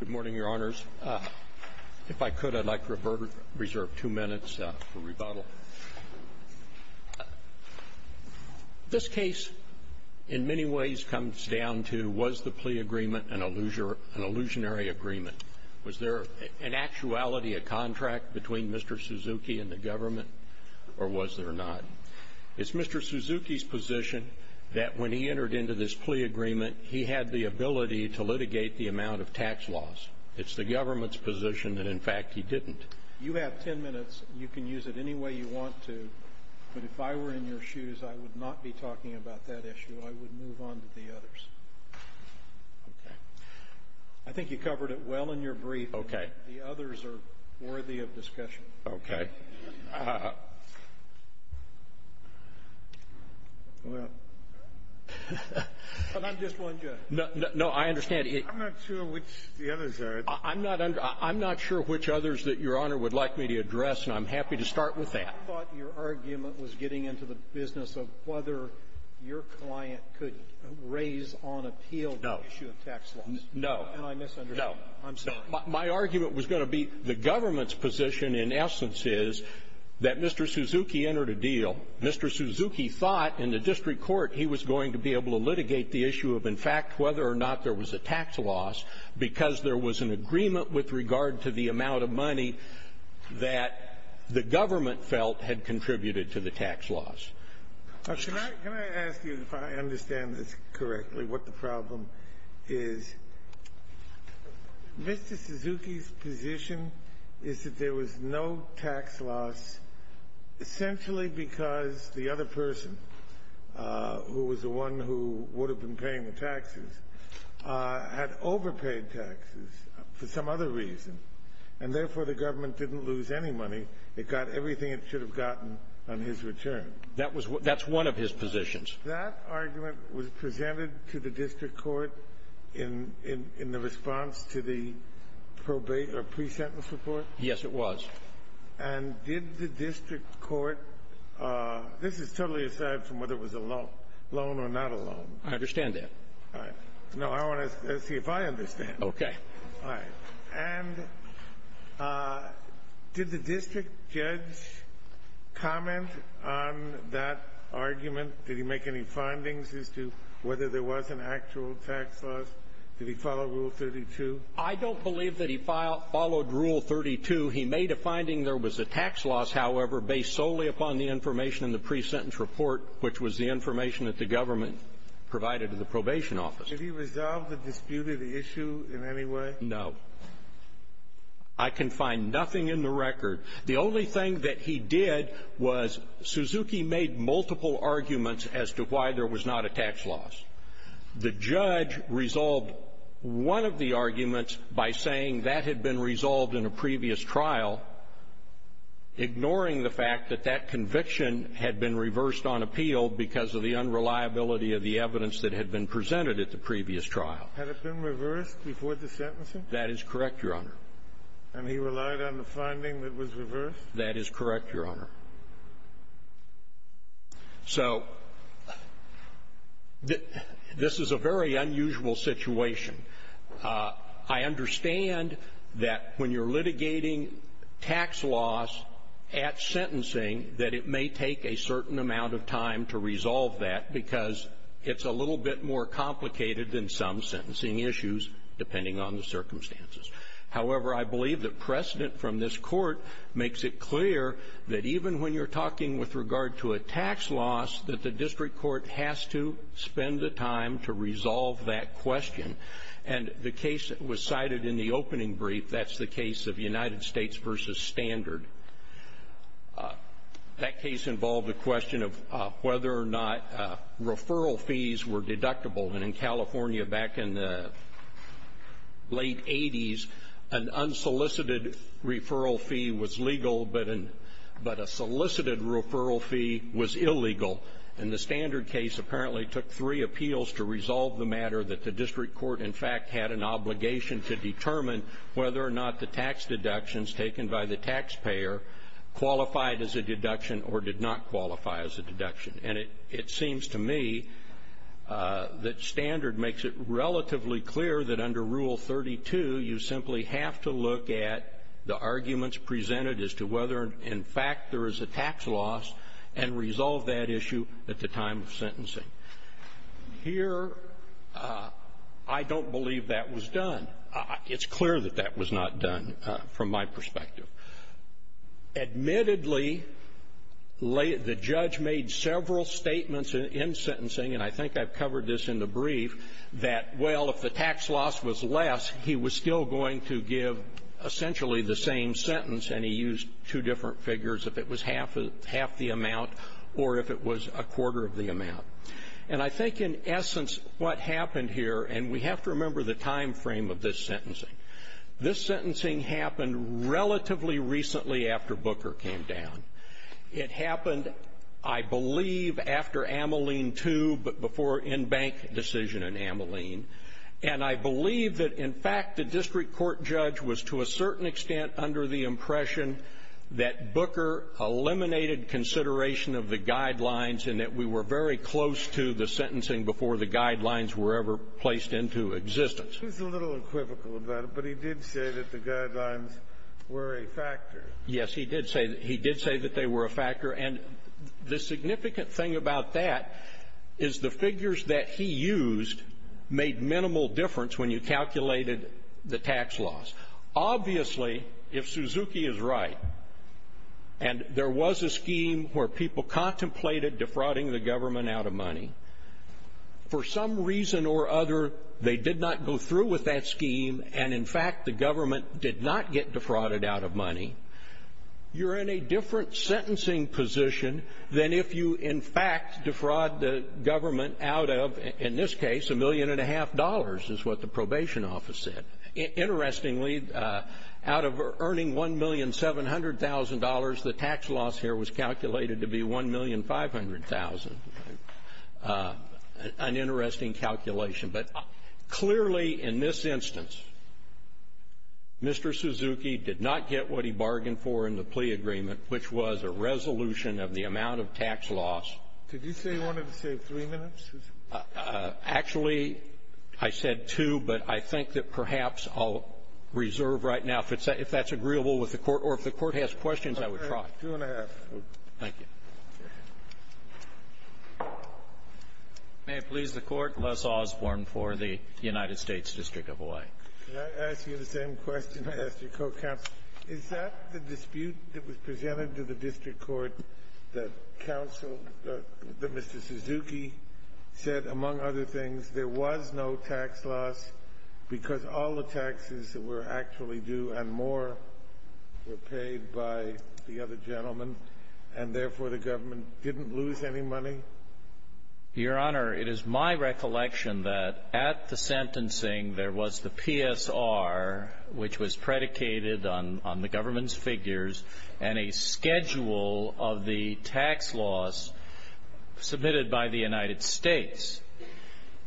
Good morning, Your Honors. If I could, I'd like to reserve two minutes for rebuttal. This case, in many ways, comes down to, was the plea agreement an illusionary agreement? Was there, in actuality, a contract between Mr. Suzuki and the government, or was there not? It's Mr. Suzuki's position that when he entered into this plea agreement, he had the ability to litigate the amount of tax loss. It's the government's position that, in fact, he didn't. You have ten minutes. You can use it any way you want to, but if I were in your shoes, I would not be talking about that issue. I would move on to the others. Okay. I think you covered it well in your brief. Okay. The others are worthy of discussion. Okay. Well, but I'm just one judge. No, I understand. I'm not sure which the others are. I'm not under — I'm not sure which others that Your Honor would like me to address, and I'm happy to start with that. I thought your argument was getting into the business of whether your client could raise on appeal the issue of tax loss. No. No. And I misunderstood. No. I'm sorry. My argument was going to be the government's position, in essence, is that Mr. Suzuki entered a deal. Mr. Suzuki thought in the district court he was going to be able to litigate the issue of, in fact, whether or not there was a tax loss because there was an agreement with regard to the amount of money that the government felt had contributed to the tax loss. Now, can I ask you, if I understand this correctly, what the problem is? Mr. Suzuki's position is that there was no tax loss essentially because the other person, who was the one who would have been paying the taxes, had overpaid taxes for some other reason, and therefore the government didn't lose any money. It got everything it should have gotten on his return. That was — that's one of his positions. That argument was presented to the district court in the response to the probate or pre-sentence report? Yes, it was. And did the district court — this is totally aside from whether it was a loan or not a loan. I understand that. All right. No, I want to see if I understand. Okay. All right. And did the district judge comment on that argument? Did he make any findings as to whether there was an actual tax loss? Did he follow Rule 32? I don't believe that he followed Rule 32. He made a finding there was a tax loss, however, based solely upon the information in the pre-sentence report, which was the information that the government provided to the probation office. Did he resolve the disputed issue in any way? No. I can find nothing in the record. The only thing that he did was Suzuki made multiple arguments as to why there was not a tax loss. The judge resolved one of the arguments by saying that had been resolved in a previous trial, ignoring the fact that that conviction had been reversed on appeal because of the unreliability of the evidence that had been presented at the previous trial. Had it been reversed before the sentencing? That is correct, Your Honor. And he relied on the finding that was reversed? That is correct, Your Honor. So this is a very unusual situation. I understand that when you're litigating tax loss at sentencing, that it may take a certain amount of time to resolve that because it's a little bit more complicated than some sentencing issues, depending on the circumstances. However, I believe the precedent from this court makes it clear that even when you're talking with regard to a tax loss, that the district court has to spend the time to resolve that question. And the case that was cited in the opening brief, that's the case of United States versus Standard. That case involved the question of whether or not referral fees were deductible. And in California back in the late 80s, an unsolicited referral fee was legal, but a solicited referral fee was illegal. And the Standard case apparently took three appeals to resolve the matter that the district court, in fact, had an obligation to determine whether or not the tax deductions taken by the taxpayer qualified as a deduction or did not qualify as a deduction. And it seems to me that Standard makes it relatively clear that under Rule 32, you simply have to look at the arguments presented as to whether, in fact, there is a tax loss and resolve that issue at the time of sentencing. Here, I don't believe that was done. It's clear that that was not done from my perspective. Admittedly, the judge made several statements in sentencing, and I think I've covered this in the brief, that, well, if the tax loss was less, he was still going to give essentially the same sentence, and he used two different figures, if it was half the amount or if it was a quarter of the amount. And I think, in essence, what happened here, and we have to remember the time frame of this sentencing, this sentencing happened relatively recently after Booker came down. It happened, I believe, after Ameline II, but before in-bank decision in Ameline. And I believe that, in fact, the district court judge was, to a certain extent, under the impression that Booker eliminated consideration of the guidelines and that we were very close to the sentencing before the guidelines were ever placed into existence. He was a little equivocal about it, but he did say that the guidelines were a factor. Yes, he did say that. He did say that they were a factor, and the significant thing about that is the figures that he used made minimal difference when you calculated the tax loss. Obviously, if Suzuki is right, and there was a scheme where people contemplated defrauding the government out of money, for some reason or other, they did not go through with that scheme, and, in fact, the government did not get defrauded out of money. You're in a different sentencing position than if you, in fact, defraud the government out of, in this case, a million and a half dollars, is what the probation office said. Interestingly, out of earning $1,700,000, the tax loss here was calculated to be $1,500,000. Okay. An interesting calculation. But clearly, in this instance, Mr. Suzuki did not get what he bargained for in the plea agreement, which was a resolution of the amount of tax loss. Did you say you wanted to save three minutes? Actually, I said two, but I think that perhaps I'll reserve right now, if that's agreeable with the Court, or if the Court has questions, I would try. Two and a half. Thank you. May it please the Court. Les Osborne for the United States District of Hawaii. Can I ask you the same question I asked your co-counsel? Is that the dispute that was presented to the district court that Mr. Suzuki said, among other things, there was no tax loss because all the taxes that were actually due and more were paid by the other gentlemen, and therefore the government didn't lose any money? Your Honor, it is my recollection that at the sentencing there was the PSR, which was predicated on the government's figures, and a schedule of the tax loss submitted by the United States.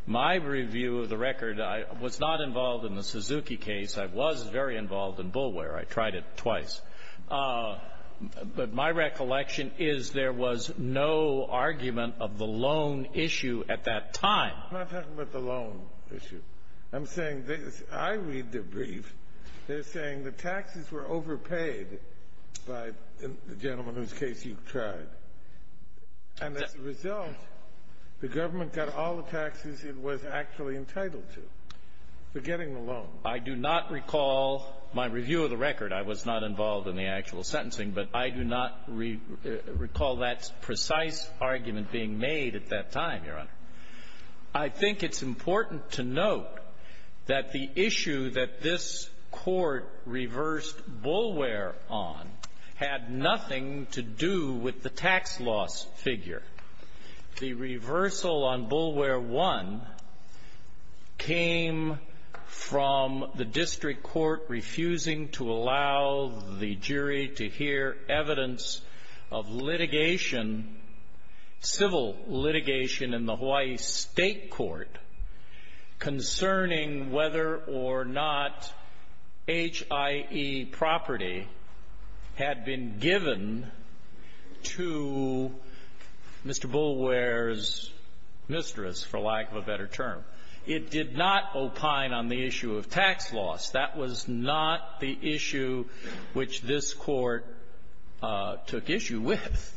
My review of the record, I was not involved in the Suzuki case. I was very involved in Bulware. I tried it twice. But my recollection is there was no argument of the loan issue at that time. I'm not talking about the loan issue. I'm saying this. I read the brief. They're saying the taxes were overpaid by the gentleman whose case you tried. And as a result, the government got all the taxes it was actually entitled to for getting the loan. I do not recall my review of the record. I was not involved in the actual sentencing. But I do not recall that precise argument being made at that time, Your Honor. I think it's important to note that the issue that this Court reversed Bulware on had nothing to do with the tax loss figure. The reversal on Bulware 1 came from the district court refusing to allow the jury to hear evidence of litigation, civil litigation, in the Hawaii State Court concerning whether or not HIE property had been given to Mr. Bulware's mistress, for lack of a better term. It did not opine on the issue of tax loss. That was not the issue which this Court took issue with.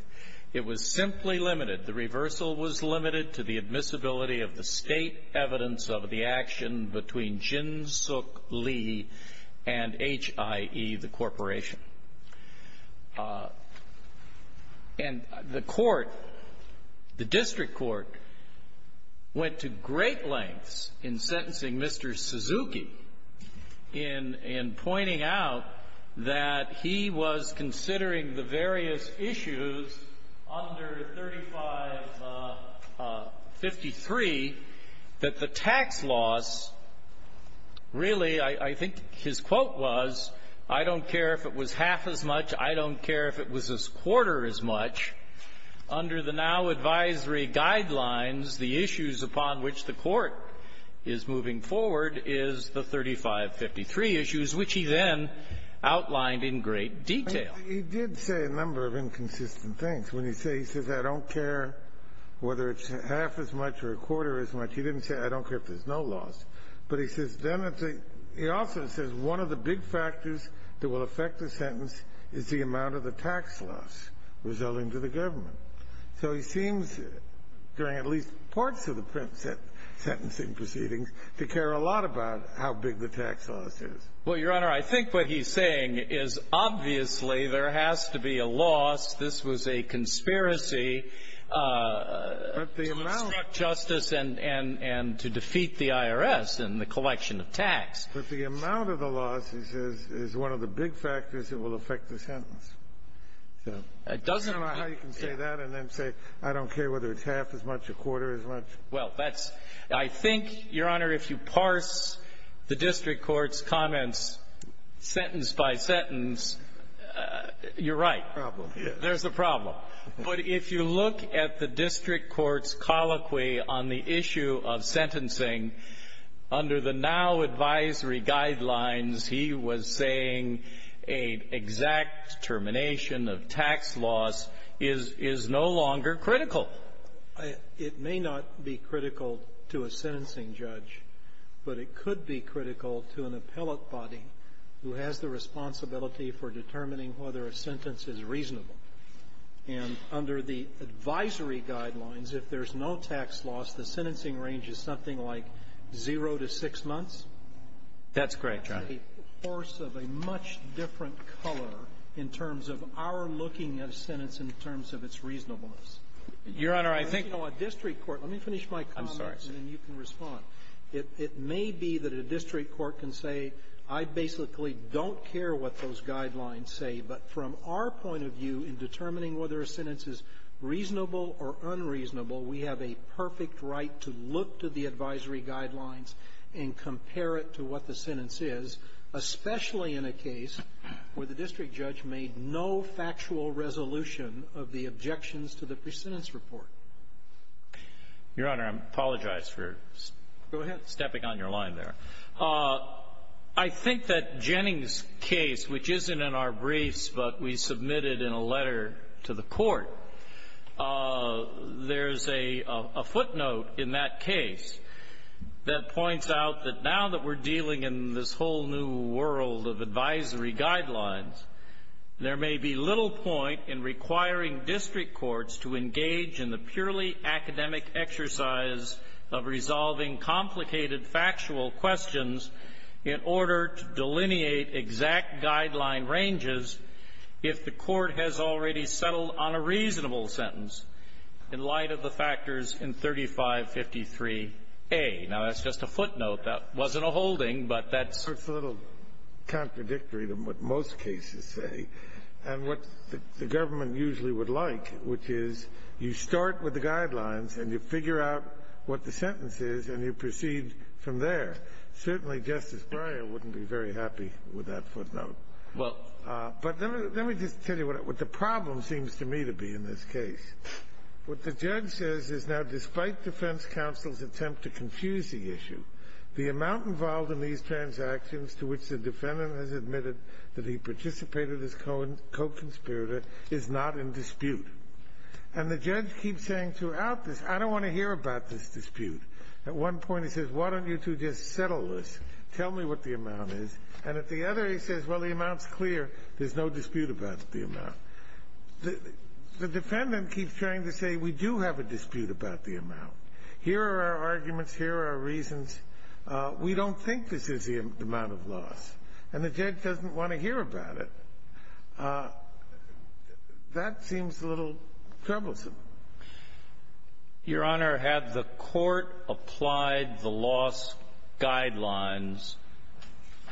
It was simply limited. The reversal was limited to the admissibility of the State evidence of the action between Jin Sook Lee and HIE, the corporation. And the court, the district court, went to great lengths in sentencing Mr. Suzuki in pointing out that he was considering the various issues under 3553 that the tax loss really, I think his quote was, I don't care if it was half as much, I don't care if it was a quarter as much, under the now advisory guidelines, the issues upon which the court is moving forward is the 3553 issues, which he then outlined in great detail. He did say a number of inconsistent things. When he says, he says, I don't care whether it's half as much or a quarter as much, he didn't say, I don't care if there's no loss, but he says then it's a — he also says one of the big factors that will affect the sentence is the amount of the tax loss resulting to the government. So he seems, during at least parts of the print sentencing proceedings, to care a lot about how big the tax loss is. Well, Your Honor, I think what he's saying is obviously there has to be a loss. This was a conspiracy to obstruct justice and to defeat the IRS in the collection of tax. But the amount of the loss, he says, is one of the big factors that will affect the sentence. So I don't know how you can say that and then say, I don't care whether it's half as much, a quarter as much. Well, that's — I think, Your Honor, if you parse the district court's comments sentence by sentence, you're right. Problem, yes. There's a problem. But if you look at the district court's colloquy on the issue of sentencing, under the now advisory guidelines, he was saying an exact termination of tax loss is no longer critical. It may not be critical to a sentencing judge, but it could be critical to an appellate body who has the responsibility for determining whether a sentence is reasonable. And under the advisory guidelines, if there's no tax loss, the sentencing range is something like zero to six months. That's correct, Your Honor. That's a course of a much different color in terms of our looking at a sentence in terms of its reasonableness. Your Honor, I think — Let me finish my comments, and then you can respond. I'm sorry, sir. It may be that a district court can say, I basically don't care what those guidelines say, but from our point of view, in determining whether a sentence is reasonable or unreasonable, we have a perfect right to look to the advisory guidelines and compare it to what the sentence is, especially in a case where the district judge made no factual resolution of the objections to the presentence report. Your Honor, I apologize for stepping on your line there. I think that Jennings' case, which isn't in our briefs, but we submitted in a letter to the Court, there's a footnote in that case that points out that now that we're dealing in this whole new world of advisory guidelines, there may be little point in requiring district courts to engage in the purely academic exercise of resolving complicated factual questions in order to delineate exact guideline ranges if the case settled on a reasonable sentence in light of the factors in 3553A. Now, that's just a footnote. That wasn't a holding, but that's — It's a little contradictory to what most cases say, and what the government usually would like, which is you start with the guidelines and you figure out what the sentence is and you proceed from there. Certainly, Justice Breyer wouldn't be very happy with that footnote. But let me just tell you what the problem seems to me to be in this case. What the judge says is now despite defense counsel's attempt to confuse the issue, the amount involved in these transactions to which the defendant has admitted that he participated as co-conspirator is not in dispute. And the judge keeps saying throughout this, I don't want to hear about this dispute. At one point he says, why don't you two just settle this, tell me what the amount is. And at the other, he says, well, the amount's clear. There's no dispute about the amount. The defendant keeps trying to say we do have a dispute about the amount. Here are our arguments. Here are our reasons. We don't think this is the amount of loss. And the judge doesn't want to hear about it. That seems a little troublesome. Your Honor, had the Court applied the loss guidelines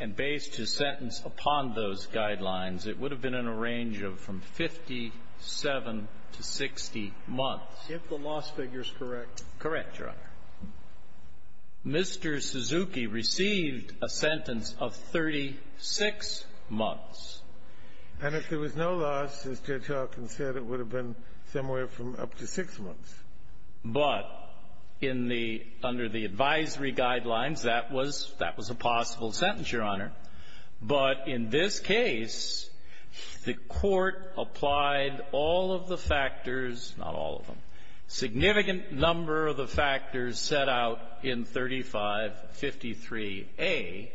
and based his sentence upon those guidelines, it would have been in a range of from 57 to 60 months. If the loss figure's correct. Correct, Your Honor. Mr. Suzuki received a sentence of 36 months. And if there was no loss, as Judge Hawkins said, it would have been somewhere from up to six months. But in the under the advisory guidelines, that was a possible sentence, Your Honor. But in this case, the Court applied all of the factors, not all of them, significant number of the factors set out in 3553A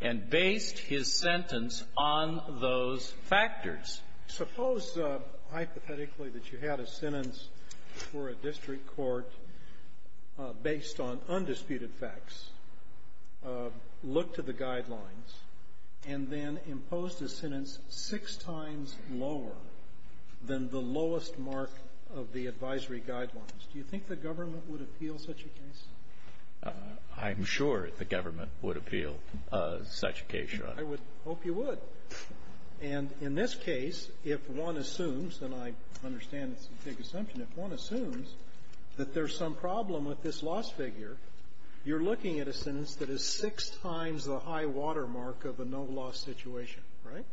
and based his sentence on those factors. Suppose, hypothetically, that you had a sentence for a district court based on undisputed facts, looked to the guidelines, and then imposed a sentence six times lower than the lowest mark of the advisory guidelines. Do you think the government would appeal such a case? I'm sure the government would appeal such a case, Your Honor. I would hope you would. And in this case, if one assumes, and I understand it's a big assumption, if one assumes that there's some problem with this loss figure, you're looking at a sentence that is six times the high-water mark of a no-loss situation. Right?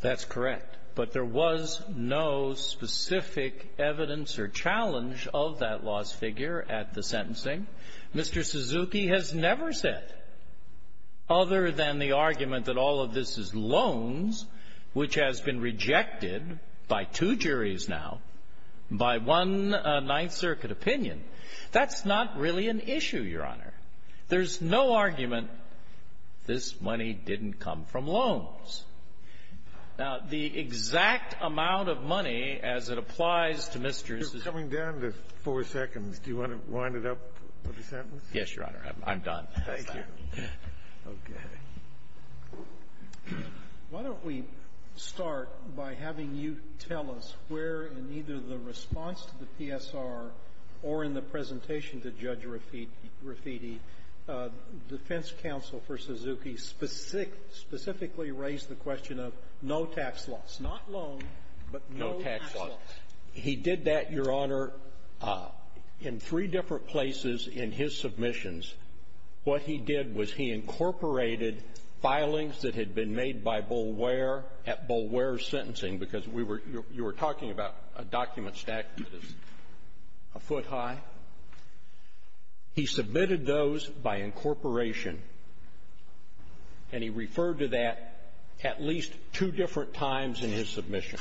That's correct. But there was no specific evidence or challenge of that loss figure at the sentencing. Mr. Suzuki has never said, other than the argument that all of this is loans, which has been rejected by two juries now, by one Ninth Circuit opinion, that's not really an issue, Your Honor. There's no argument this money didn't come from loans. Now, the exact amount of money, as it applies to Mr. Suzuki --" You're coming down to four seconds. Do you want to wind it up with a sentence? Yes, Your Honor. I'm done. Thank you. Okay. Why don't we start by having you tell us where in either the response to the PSR or in the presentation to Judge Rafiti, defense counsel for Suzuki specifically raised the question of no tax loss, not loan, but no tax loss. No tax loss. He did that, Your Honor, in three different places in his submissions. What he did was he incorporated filings that had been made by Boulware at Boulware's sentencing, because we were you were talking about a document stack that is a foot high. He submitted those by incorporation. And he referred to that at least two different times in his submission.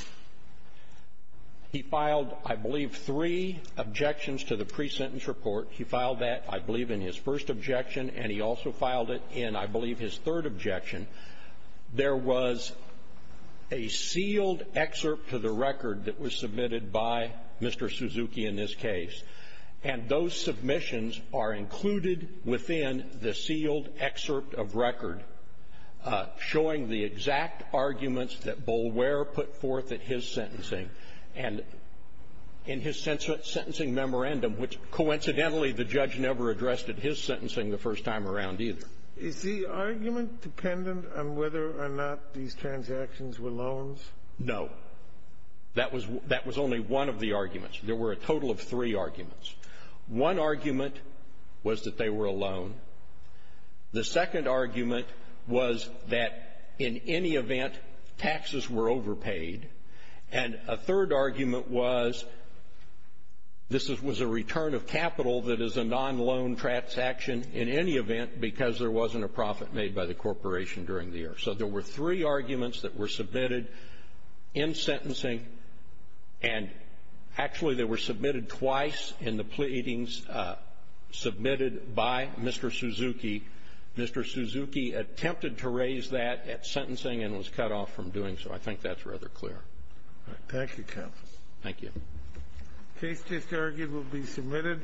He filed, I believe, three objections to the presentence report. He filed that, I believe, in his first objection, and he also filed it in, I believe, his third objection. There was a sealed excerpt to the record that was submitted by Mr. Suzuki in this case, and those submissions are included within the sealed excerpt of record showing the exact arguments that Boulware put forth at his sentencing and in his sentencing memorandum, which, coincidentally, the judge never addressed at his sentencing the first time around either. Is the argument dependent on whether or not these transactions were loans? No. That was only one of the arguments. There were a total of three arguments. One argument was that they were a loan. The second argument was that, in any event, taxes were overpaid. And a third argument was this was a return of capital that is a non-loan transaction in any event because there wasn't a profit made by the corporation during the year. So there were three arguments that were submitted in sentencing, and actually they were submitted twice in the pleadings submitted by Mr. Suzuki. Mr. Suzuki attempted to raise that at sentencing and was cut off from doing so. I think that's rather clear. All right. Thank you, counsel. Thank you. The case just argued will be submitted.